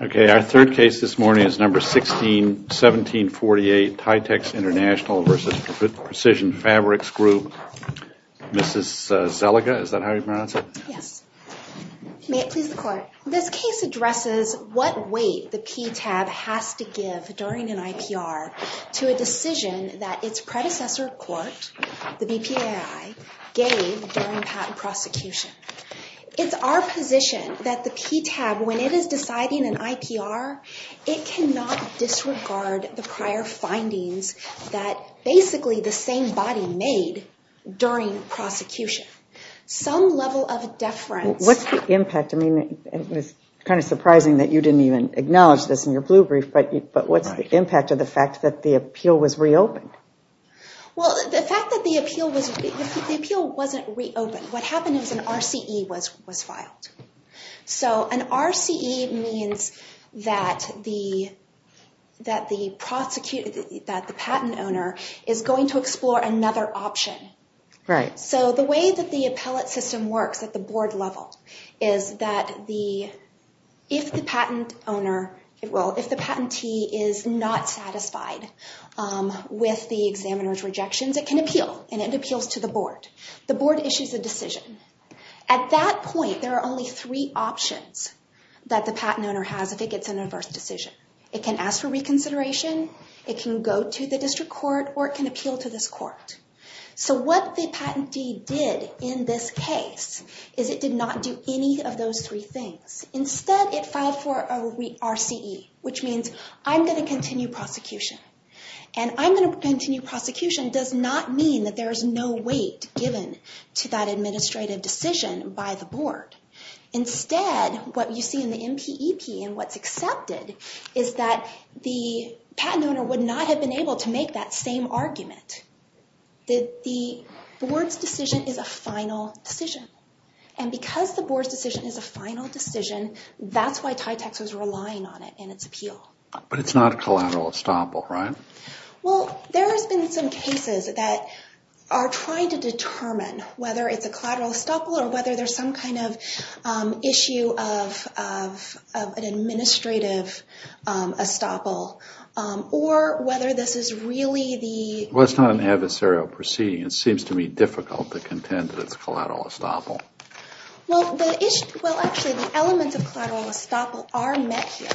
Okay, our third case this morning is number 161748, Tytex International versus Precision Fabrics Group. Mrs. Zelliger, is that how you pronounce it? May it please the court. Okay. This case addresses what weight the PTAB has to give during an IPR to a decision that its predecessor court, the BPAI, gave during patent prosecution. It's our position that the PTAB, when it is deciding an IPR, it cannot disregard the prior findings that basically the same body made during prosecution. Some level of deference. What's the impact? I mean, it's kind of surprising that you didn't even acknowledge this in your blue brief, but what's the impact of the fact that the appeal was reopened? Well, the fact that the appeal was reopened, the appeal wasn't reopened. What happened is an RCE was filed. So an RCE means that the patent owner is going to explore another option. Right. So the way that the appellate system works at the board level is that if the patent owner, well, if the patentee is not satisfied with the examiner's rejections, it can appeal and it appeals to the board. The board issues a decision. At that point, there are only three options that the patent owner has if it gets an adverse decision. It can ask for reconsideration, it can go to the district court, or it can appeal to this court. So what the patentee did in this case is it did not do any of those three things. Instead, it filed for a RCE, which means I'm going to continue prosecution. And I'm going to continue prosecution does not mean that there is no weight given to that administrative decision by the board. Instead, what you see in the MPEP and what's accepted is that the patent owner would not have been able to make that same argument. The board's decision is a final decision. And because the board's decision is a final decision, that's why TYTAX was relying on it in its appeal. But it's not a collateral estoppel, right? Well, there has been some cases that are trying to determine whether it's a collateral estoppel or whether there's some kind of issue of an administrative estoppel, or whether this is really the... Well, it's not an adversarial proceeding. It seems to me difficult to contend that it's a collateral estoppel. Well, actually, the elements of collateral estoppel are met here.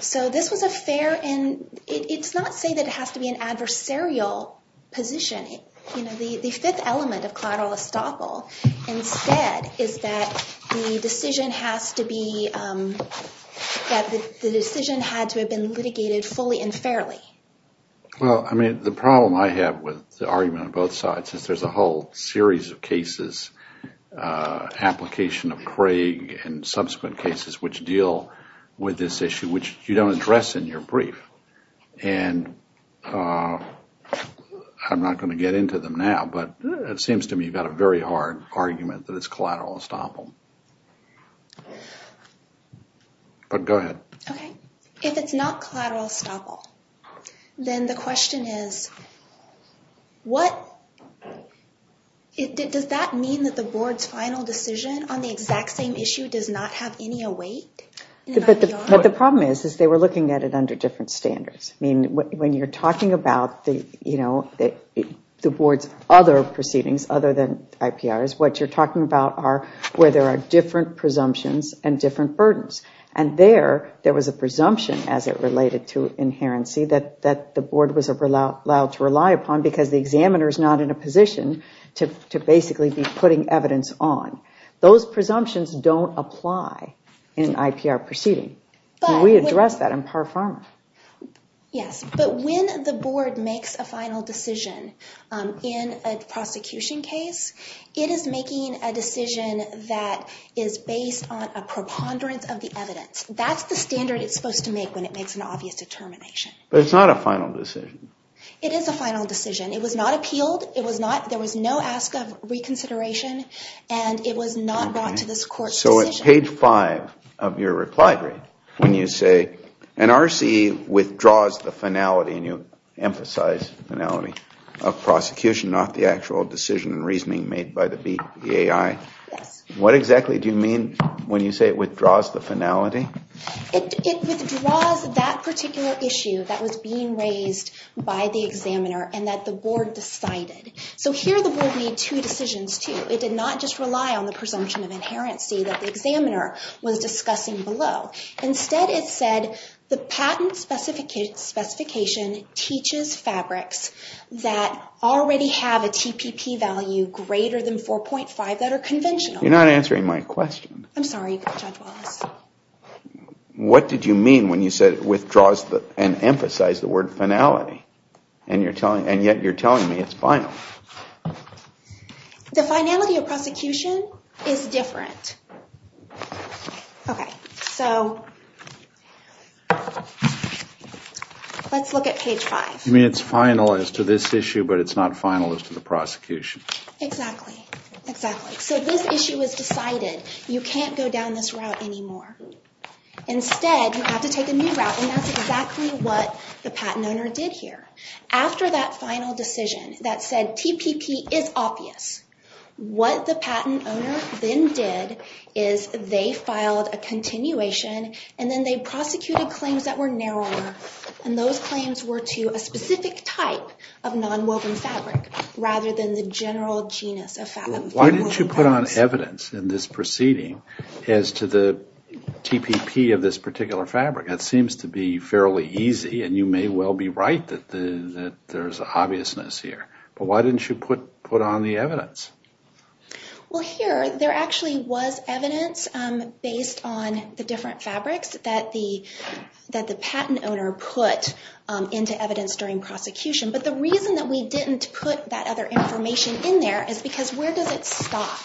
So this was a fair... It's not saying that it has to be an adversarial position. The fifth element of collateral estoppel, instead, is that the decision has to be... That the decision had to have been litigated fully and fairly. Well, I mean, the problem I have with the argument on both sides is there's a whole series of cases, application of Craig and subsequent cases, which deal with this issue, which you don't address in your brief. And I'm not going to get into them now, but it seems to me you've got a very hard argument that it's collateral estoppel. But go ahead. Okay. If it's not collateral estoppel, then the question is, does that mean that the board's final decision on the exact same issue does not have any weight? But the problem is, is they were looking at it under different standards. When you're talking about the board's other proceedings, other than IPRs, what you're talking about are where there are different presumptions and different burdens. And there, there was a presumption as it related to inherency that the board was allowed to rely upon because the examiner's not in a position to basically be putting evidence on. Those presumptions don't apply in IPR proceeding. We address that in par forma. Yes. But when the board makes a final decision in a prosecution case, it is making a decision that is based on a preponderance of the evidence. That's the standard it's supposed to make when it makes an obvious determination. But it's not a final decision. It is a final decision. It was not appealed. It was not. There was no ask of reconsideration, and it was not brought to this court's decision. So at page five of your reply brief, when you say, an RCE withdraws the finality, and you emphasize the finality of prosecution, not the actual decision and reasoning made by the BAI, what exactly do you mean when you say it withdraws the finality? It withdraws that particular issue that was being raised by the examiner and that the board decided. So here, the board made two decisions, too. It did not just rely on the presumption of inherency that the examiner was discussing below. Instead, it said the patent specification teaches fabrics that already have a TPP value greater than 4.5 that are conventional. You're not answering my question. I'm sorry, Judge Wallace. What did you mean when you said it withdraws and emphasized the word finality, and yet you're telling me it's final? The finality of prosecution is different. So let's look at page five. It's final as to this issue, but it's not final as to the prosecution. Exactly. Exactly. So this issue is decided. You can't go down this route anymore. Instead, you have to take a new route, and that's exactly what the patent owner did here. After that final decision that said TPP is obvious, what the patent owner then did is they filed a continuation, and then they prosecuted claims that were narrower, and those claims were to a specific type of nonwoven fabric rather than the general genus of fabric. Why didn't you put on evidence in this proceeding as to the TPP of this particular fabric? That seems to be fairly easy, and you may well be right that there's an obviousness here, but why didn't you put on the evidence? Well, here, there actually was evidence based on the different fabrics that the patent owner put into evidence during prosecution, but the reason that we didn't put that other information in there is because where does it stop?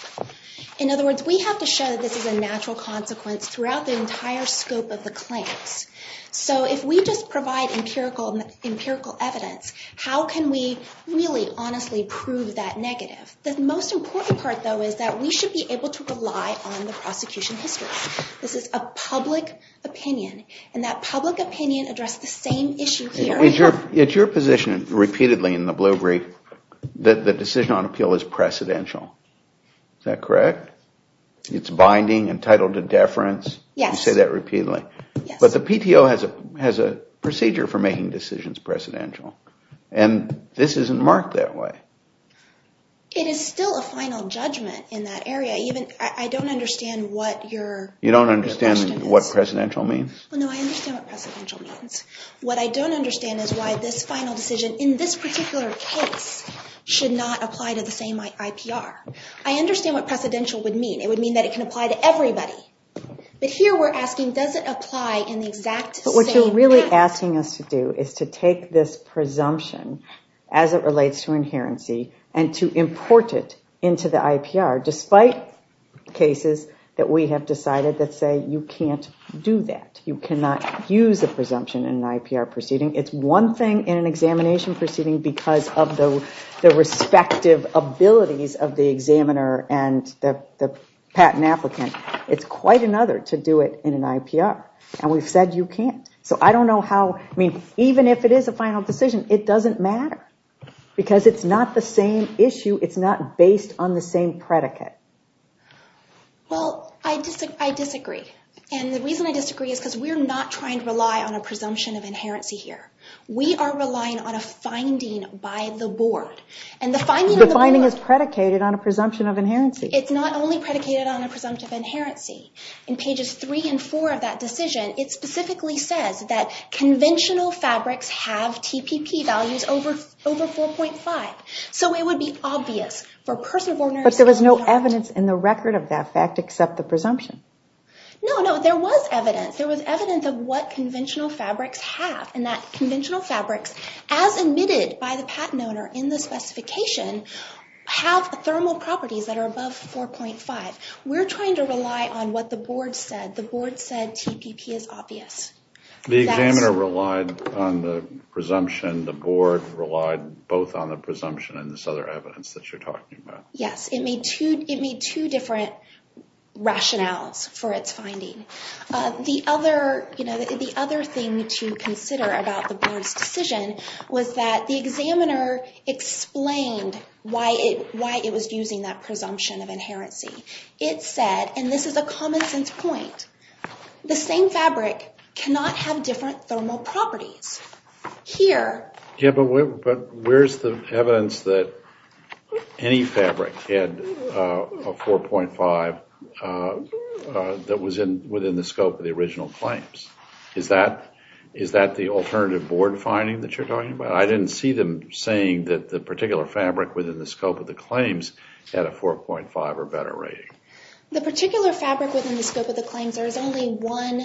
In other words, we have to show that this is a natural consequence throughout the entire scope of the claims. So if we just provide empirical evidence, how can we really honestly prove that negative? The most important part, though, is that we should be able to rely on the prosecution history. This is a public opinion, and that public opinion addressed the same issue here. It's your position repeatedly in the Blue Brief that the decision on appeal is precedential. Is that correct? It's binding, entitled to deference. Yes. I say that repeatedly. Yes. But the PTO has a procedure for making decisions precedential, and this isn't marked that way. It is still a final judgment in that area. I don't understand what your question is. You don't understand what precedential means? No, I understand what precedential means. What I don't understand is why this final decision in this particular case should not apply to the same IPR. I understand what precedential would mean. It would mean that it can apply to everybody. But here we're asking, does it apply in the exact same pattern? But what you're really asking us to do is to take this presumption as it relates to inherency and to import it into the IPR, despite cases that we have decided that say you can't do that. You cannot use a presumption in an IPR proceeding. It's one thing in an examination proceeding because of the respective abilities of the patent applicant. It's quite another to do it in an IPR, and we've said you can't. So I don't know how, I mean, even if it is a final decision, it doesn't matter because it's not the same issue. It's not based on the same predicate. Well, I disagree, and the reason I disagree is because we're not trying to rely on a presumption of inherency here. We are relying on a finding by the board. And the finding is predicated on a presumption of inherency. It's not only predicated on a presumption of inherency. In pages three and four of that decision, it specifically says that conventional fabrics have TPP values over 4.5. So it would be obvious for a person of ordinary... But there was no evidence in the record of that fact except the presumption. No, no, there was evidence. There was evidence of what conventional fabrics have, and that conventional fabrics, as admitted by the patent owner in the specification, have thermal properties that are above 4.5. We're trying to rely on what the board said. The board said TPP is obvious. The examiner relied on the presumption. The board relied both on the presumption and this other evidence that you're talking about. Yes, it made two different rationales for its finding. The other thing to consider about the board's decision was that the examiner explained why it was using that presumption of inherency. It said, and this is a common sense point, the same fabric cannot have different thermal properties. Here... Yeah, but where's the evidence that any fabric had a 4.5 that was within the scope of the original claims? Is that the alternative board finding that you're talking about? I didn't see them saying that the particular fabric within the scope of the claims had a 4.5 or better rating. The particular fabric within the scope of the claims, there was only one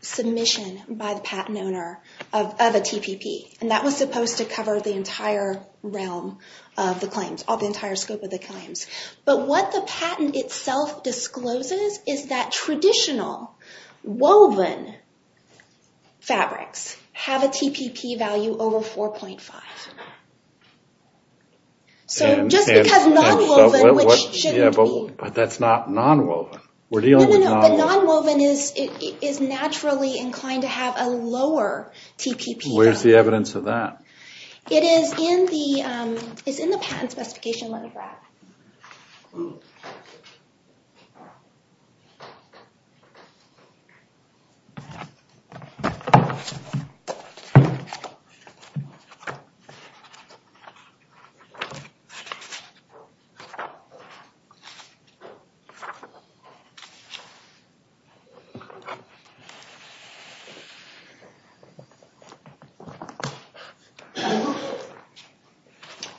submission by the patent owner of a TPP. That was supposed to cover the entire realm of the claims, the entire scope of the claims. What the patent itself discloses is that traditional woven fabrics have a TPP value over 4.5. Just because non-woven, which shouldn't be... That's not non-woven. We're dealing with non-woven. Non-woven is naturally inclined to have a lower TPP value. Where's the evidence of that? It is in the patent specification, let me grab it.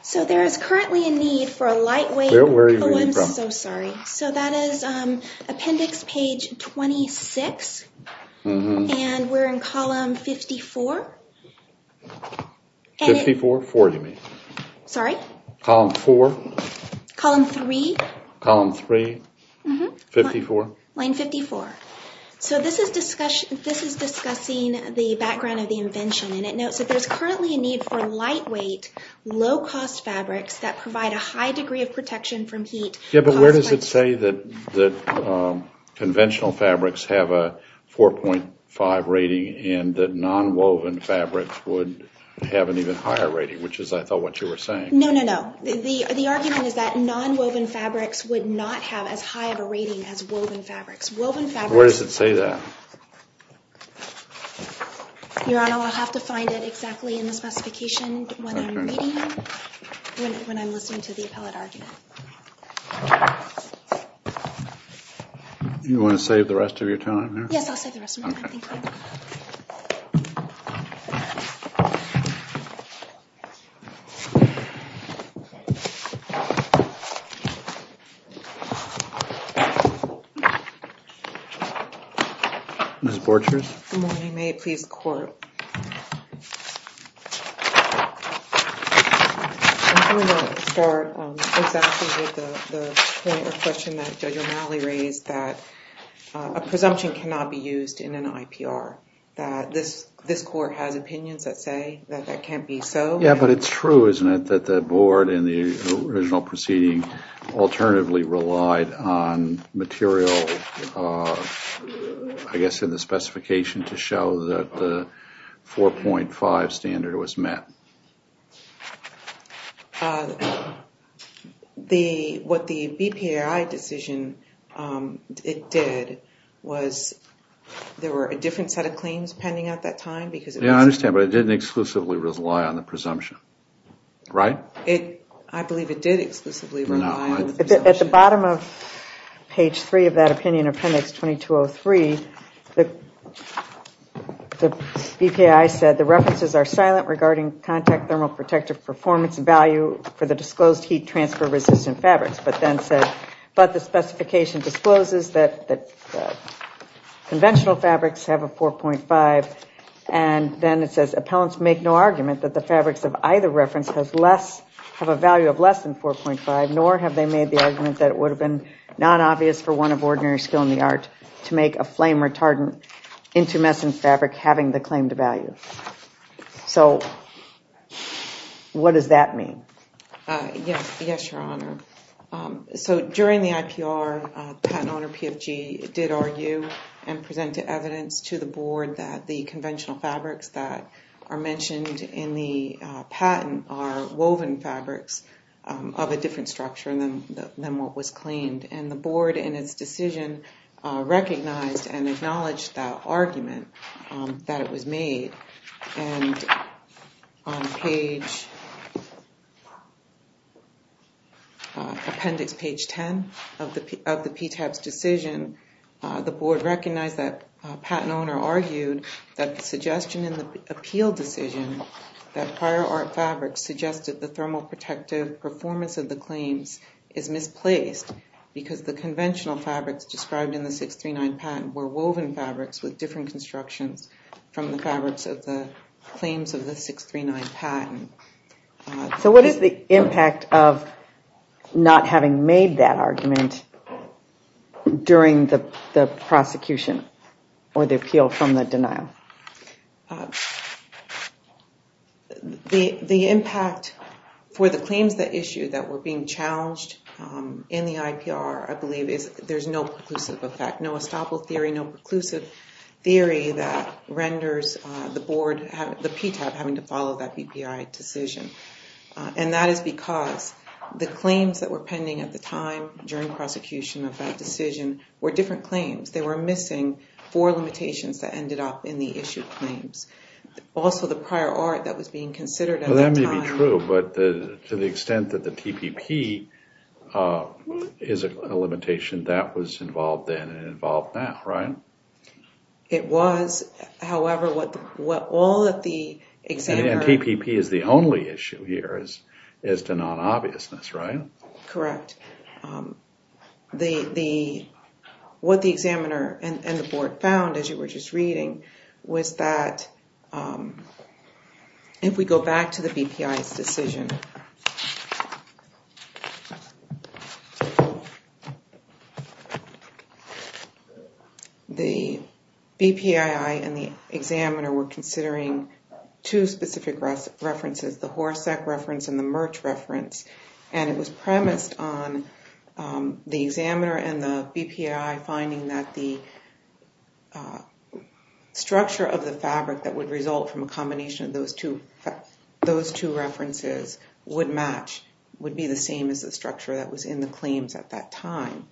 So, there is currently a need for a lightweight... Where are you reading from? Oh, I'm so sorry. So, that is appendix page 26, and we're in column 54. 54? 4, you mean. Sorry? Column 4. Column 3. Column 3. 54. Line 54. So, this is discussing the background of the invention, and it notes that there's currently a need for lightweight, low-cost fabrics that provide a high degree of protection from heat. Yeah, but where does it say that conventional fabrics have a 4.5 rating and that non-woven fabrics would have an even higher rating, which is, I thought, what you were saying. No, no, no. The argument is that non-woven fabrics would not have as high of a rating as woven fabrics. Where does it say that? Your Honor, I'll have to find it exactly in the specification when I'm reading, when I'm listening to the appellate argument. You want to save the rest of your time here? Yes, I'll save the rest of my time. Thank you. Ms. Borchers? Good morning. May it please the Court? I'm going to start exactly with the point or question that Judge O'Malley raised, that a presumption cannot be used in an IPR, that this Court has opinions that say that that can't be so. Yeah, but it's true, isn't it, that the Board in the original proceeding alternatively relied on material, I guess, in the specification to show that the 4.5 standard was met? What the BPAI decision, it did, was there were a different set of claims pending at that time? Yeah, I understand, but it didn't exclusively rely on the presumption, right? At the bottom of page three of that opinion, appendix 2203, the BPAI said the references are silent regarding contact thermal protective performance value for the disclosed heat transfer resistant fabrics, but then said, but the specification discloses that conventional fabrics have a 4.5 and then it says appellants make no argument that the fabrics of either reference have a value of less than 4.5, nor have they made the argument that it would have been not obvious for one of ordinary skill in the art to make a flame retardant intumescent fabric having the claimed value. So, what does that mean? Yes, Your Honor. So, during the IPR, the patent owner, PFG, did argue and presented evidence to the Board that the conventional fabrics that are mentioned in the patent are woven fabrics of a different structure than what was claimed. And the Board, in its decision, recognized and acknowledged that argument that it was made, and on page, appendix page 10 of the PTAB's decision, the Board recognized that the patent owner argued that the suggestion in the appeal decision that prior art fabrics suggested the thermal protective performance of the claims is misplaced because the conventional fabrics described in the 639 patent were woven fabrics with different constructions from the fabrics of the claims of the 639 patent. So, what is the impact of not having made that argument during the prosecution? Or the appeal from the denial? The impact for the claims that issue that were being challenged in the IPR, I believe, is there's no preclusive effect, no estoppel theory, no preclusive theory that renders the Board, the PTAB, having to follow that BPI decision. And that is because the claims that were pending at the time during prosecution of that decision were different claims. They were missing four limitations that ended up in the issue claims. Also, the prior art that was being considered at the time. Well, that may be true, but to the extent that the TPP is a limitation, that was involved then and involved now, right? It was. However, what all of the examiner... And TPP is the only issue here as to non-obviousness, right? Correct. What the examiner and the Board found, as you were just reading, was that if we go back to the BPI's decision, the BPI and the examiner were considering two specific references, the HORSEC reference and the MERCH reference. And it was premised on the examiner and the BPI finding that the structure of the fabric that would result from a combination of those two references would match, would be the same as the structure that was in the claims at that time.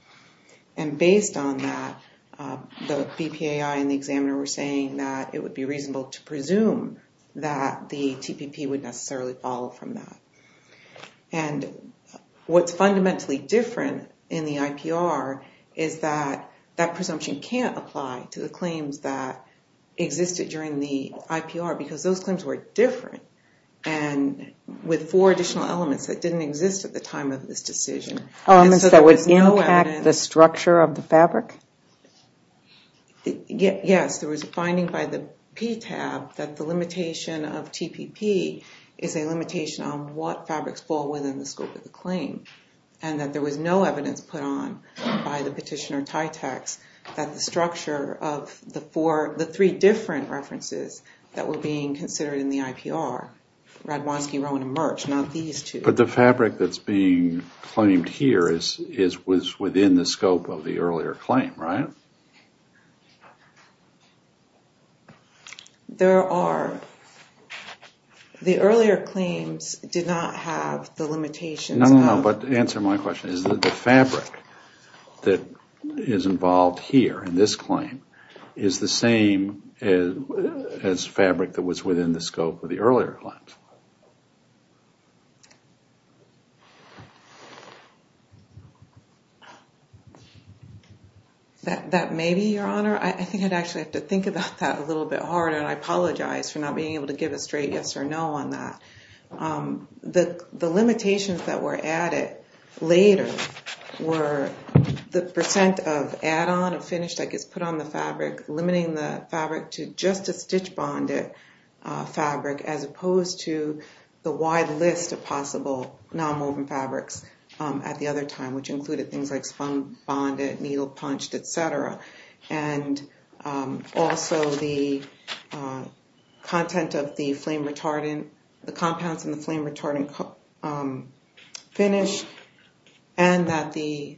And based on that, the BPI and the examiner were saying that it would be reasonable to necessarily follow from that. And what's fundamentally different in the IPR is that that presumption can't apply to the claims that existed during the IPR because those claims were different and with four additional elements that didn't exist at the time of this decision. Elements that would impact the structure of the fabric? Yes, there was a finding by the PTAB that the limitation of TPP is a limitation on what fabrics fall within the scope of the claim. And that there was no evidence put on by the petitioner TYTEX that the structure of the three different references that were being considered in the IPR, Radwanski, Rowan, and MERCH, not these two. But the fabric that's being claimed here was within the scope of the earlier claim, right? There are. The earlier claims did not have the limitations of... No, no, no, but to answer my question, is the fabric that is involved here in this claim is the same as fabric that was within the scope of the earlier claims? That may be, Your Honor. I think I'd actually have to think about that a little bit harder, and I apologize for not being able to give a straight yes or no on that. The limitations that were added later were the percent of add-on or finish that gets put on the fabric, limiting the fabric to just a stitch-bonded fabric as opposed to the wide list of possible non-woven fabrics at the other time, which included things like spun-bonded, needle-punched, etc. And also the content of the flame-retardant, the compounds in the flame-retardant finish, and that the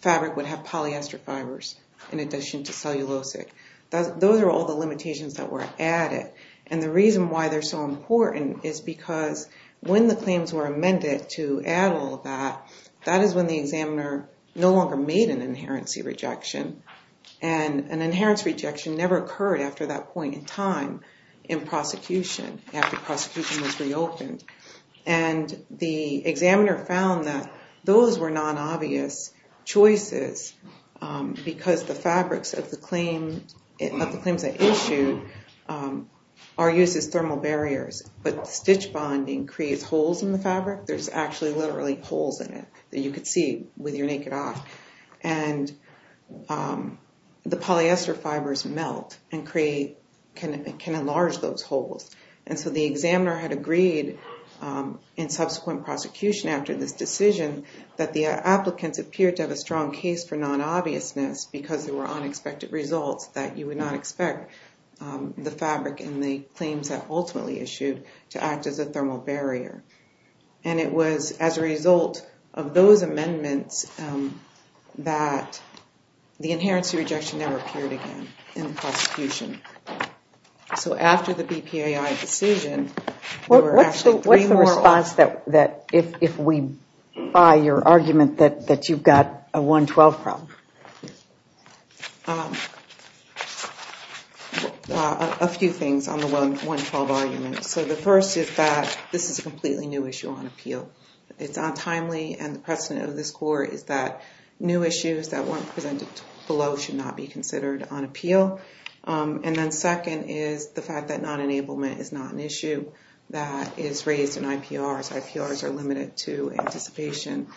fabric would have polyester fibers in addition to cellulosic. Those are all the limitations that were added. And the reason why they're so important is because when the claims were amended to add all that, that is when the examiner no longer made an inherency rejection. And an inheritance rejection never occurred after that point in time in prosecution, after prosecution was reopened. And the examiner found that those were non-obvious choices because the fabrics of the claims they issued are used as thermal barriers, but stitch-bonding creates holes in the fabric. There's actually literally holes in it that you could see with your naked eye. And the polyester fibers melt and can enlarge those holes. And so the examiner had agreed in subsequent prosecution after this decision that the applicants appeared to have a strong case for non-obviousness because there were unexpected results, that you would not expect the fabric in the claims that ultimately issued to act as a thermal barrier. And it was as a result of those amendments that the inherency rejection never appeared again in the prosecution. So after the BPAI decision, there were actually three more— I would ask that if we buy your argument that you've got a 112 problem. A few things on the 112 argument. So the first is that this is a completely new issue on appeal. It's untimely, and the precedent of this Court is that new issues that weren't presented below should not be considered on appeal. And then second is the fact that non-enablement is not an issue that is raised in IPRs. IPRs are limited to anticipation.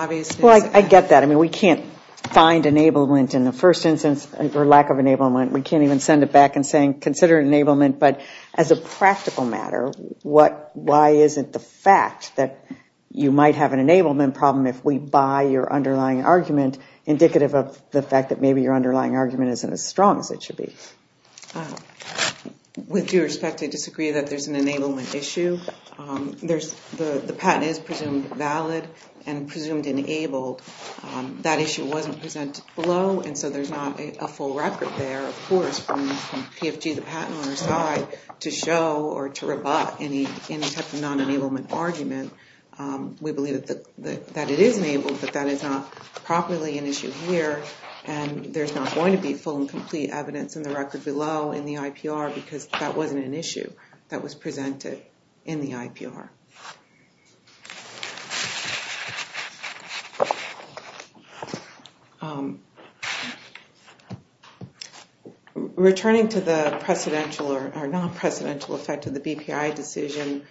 Well, I get that. I mean, we can't find enablement in the first instance or lack of enablement. We can't even send it back and say, consider enablement. But as a practical matter, why isn't the fact that you might have an enablement problem if we buy your underlying argument indicative of the fact that maybe your underlying argument isn't as strong as it should be? With due respect, I disagree that there's an enablement issue. The patent is presumed valid and presumed enabled. That issue wasn't presented below, and so there's not a full record there, of course, from PFG, the patent owner's side, to show or to rebut any type of non-enablement argument. We believe that it is enabled, but that is not properly an issue here. And there's not going to be full and complete evidence in the record below in the IPR because that wasn't an issue that was presented in the IPR. Returning to the precedential or non-precedential effect of the BPI decision,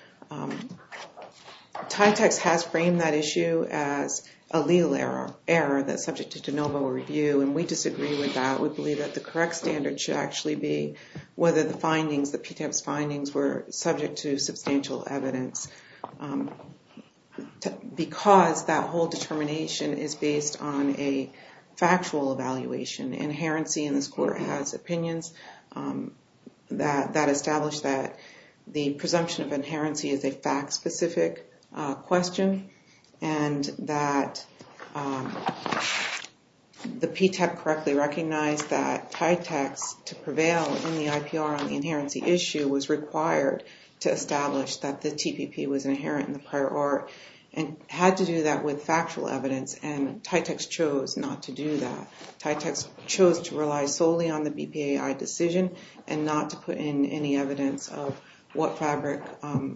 TITEX has framed that issue as a legal error that's subject to de novo review, and we disagree with that. We believe that the correct standard should actually be whether the findings, the PTEP's findings, were subject to substantial evidence because that whole determination is based on a factual evaluation. Inherency in this court has opinions that establish that the presumption of inherency is a fact-specific question, and that the PTEP correctly recognized that TITEX, to prevail in the IPR on the inherency issue, was required to establish that the TPP was inherent in the prior art and had to do that with factual evidence, and TITEX chose not to do that. TITEX chose to rely solely on the BPAI decision and not to put in any evidence of what fabric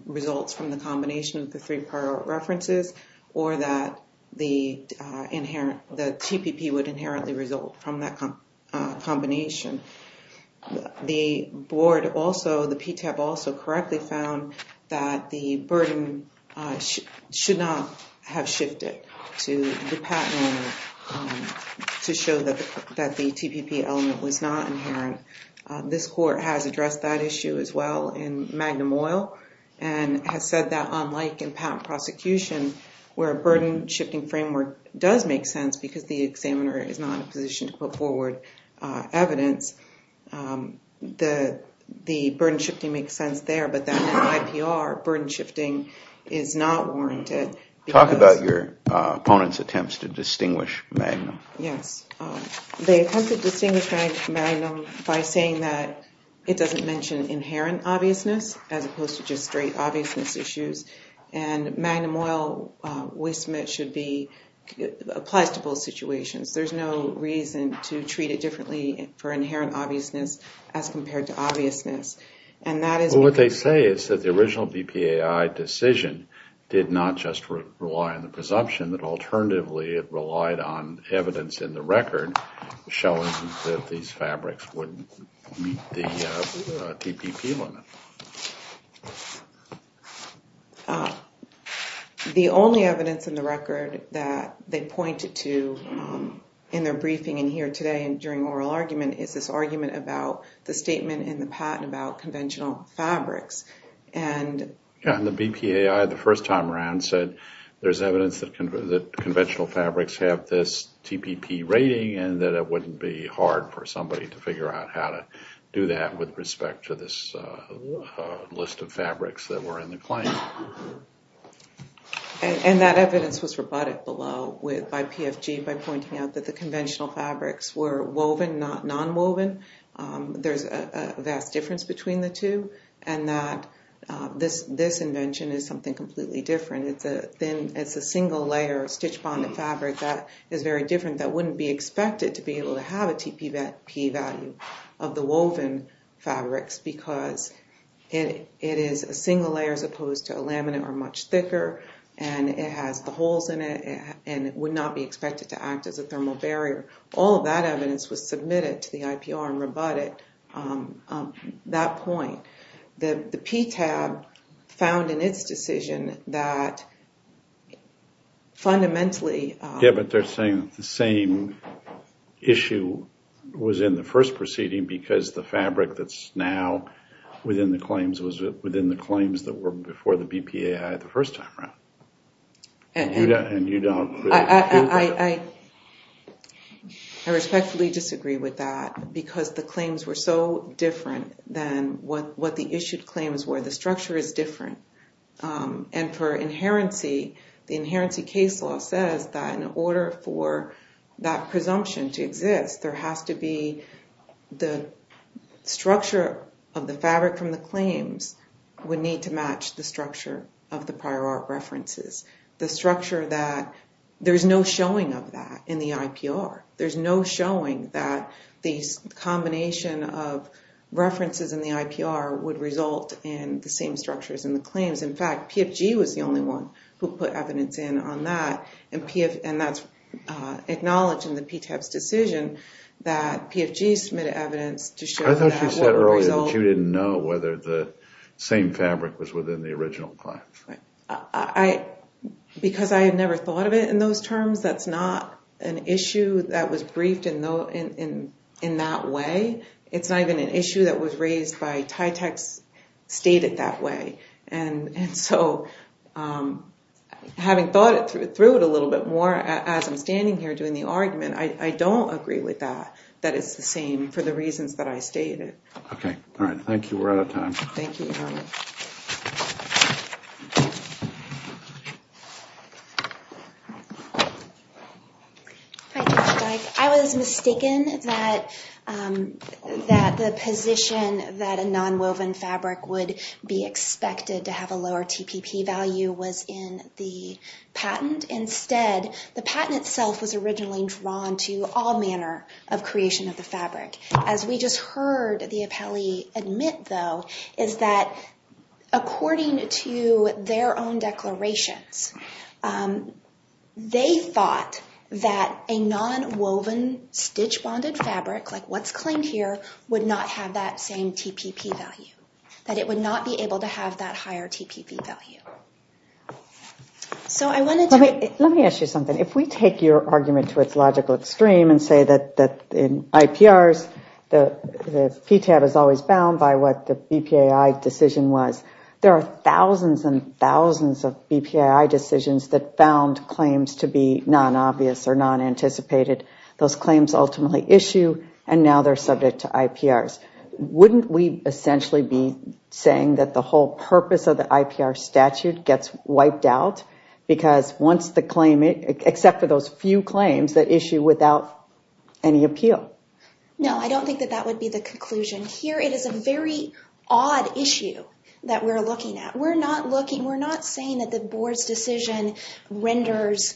results from the combination of the three prior art references or that the TPP would inherently result from that combination. The board also, the PTEP also, correctly found that the burden should not have shifted to the patent owner to show that the TPP element was not inherent. This court has addressed that issue as well in Magnum Oil and has said that unlike in patent prosecution, where a burden-shifting framework does make sense because the examiner is not in a position to put forward evidence, the burden-shifting makes sense there, but that in the IPR, burden-shifting is not warranted. Talk about your opponent's attempts to distinguish Magnum. Yes, they attempted to distinguish Magnum by saying that it doesn't mention inherent obviousness as opposed to just straight obviousness issues, and Magnum Oil, we submit, should be, applies to both situations. There's no reason to treat it differently for inherent obviousness as compared to obviousness. What they say is that the original BPAI decision did not just rely on the presumption, but alternatively it relied on evidence in the record showing that these fabrics wouldn't meet the TPP limit. The only evidence in the record that they pointed to in their briefing in here today and during oral argument is this argument about the statement in the patent about conventional fabrics. The BPAI the first time around said there's evidence that conventional fabrics have this TPP rating and that it wouldn't be hard for somebody to figure out how to do that with respect to this list of fabrics that were in the claim. And that evidence was rebutted below by PFG by pointing out that the conventional fabrics were woven, not non-woven. There's a vast difference between the two and that this invention is something completely different. It's a single layer of stitch bonded fabric that is very different that wouldn't be expected to be able to have a TPP value of the woven fabrics because it is a single layer as opposed to a laminate or much thicker and it has the holes in it and it would not be expected to act as a thermal barrier. All of that evidence was submitted to the IPR and rebutted at that point. The PTAB found in its decision that fundamentally... Yeah, but they're saying the same issue was in the first proceeding because the fabric that's now within the claims was within the claims that were before the BPAI the first time around. I respectfully disagree with that because the claims were so different than what the issued claims were. The structure is different. And for inherency, the inherency case law says that in order for that presumption to exist there has to be the structure of the fabric from the claims would need to match the structure of the prior art references. The structure that there's no showing of that in the IPR. There's no showing that this combination of references in the IPR would result in the same structures in the claims. In fact, PFG was the only one who put evidence in on that and that's acknowledged in the PTAB's decision that PFG submitted evidence to show that... I thought you said earlier that you didn't know whether the same fabric was within the original claims. Because I had never thought of it in those terms, that's not an issue that was briefed in that way. It's not even an issue that was raised by TYTEX stated that way. And so having thought through it a little bit more as I'm standing here doing the argument I don't agree with that, that it's the same for the reasons that I stated. Okay. All right. Thank you. We're out of time. Thank you. I was mistaken that the position that a non-woven fabric would be expected to have a lower TPP value was in the patent. And instead, the patent itself was originally drawn to all manner of creation of the fabric. As we just heard the appellee admit, though, is that according to their own declarations they thought that a non-woven stitch-bonded fabric like what's claimed here would not have that same TPP value. That it would not be able to have that higher TPP value. Let me ask you something. If we take your argument to its logical extreme and say that in IPRs the PTAB is always bound by what the BPAI decision was there are thousands and thousands of BPAI decisions that found claims to be non-obvious or non-anticipated. Those claims ultimately issue and now they're subject to IPRs. Wouldn't we essentially be saying that the whole purpose of the IPR statute gets wiped out? Because once the claim, except for those few claims that issue without any appeal. No, I don't think that that would be the conclusion. Here it is a very odd issue that we're looking at. We're not looking, we're not saying that the board's decision renders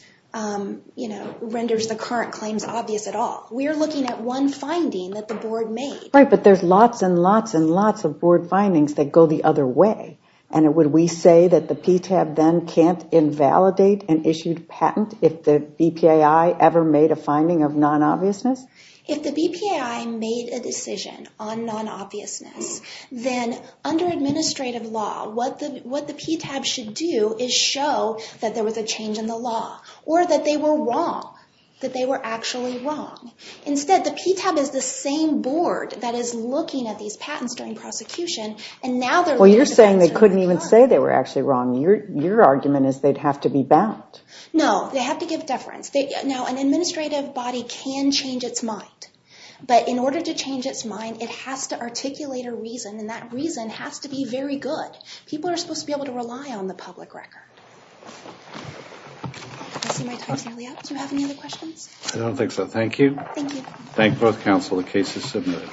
the current claims obvious at all. We're looking at one finding that the board made. Right, but there's lots and lots and lots of board findings that go the other way. And would we say that the PTAB then can't invalidate an issued patent if the BPAI ever made a finding of non-obviousness? If the BPAI made a decision on non-obviousness, then under administrative law what the PTAB should do is show that there was a change in the law. Or that they were wrong, that they were actually wrong. Instead, the PTAB is the same board that is looking at these patents during prosecution. And now they're looking to answer— Well, you're saying they couldn't even say they were actually wrong. Your argument is they'd have to be bound. No, they have to give deference. Now, an administrative body can change its mind. But in order to change its mind, it has to articulate a reason. And that reason has to be very good. People are supposed to be able to rely on the public record. I see my time's nearly up. Do you have any other questions? I don't think so. Thank you. Thank you. Thank both counsel. The case is submitted.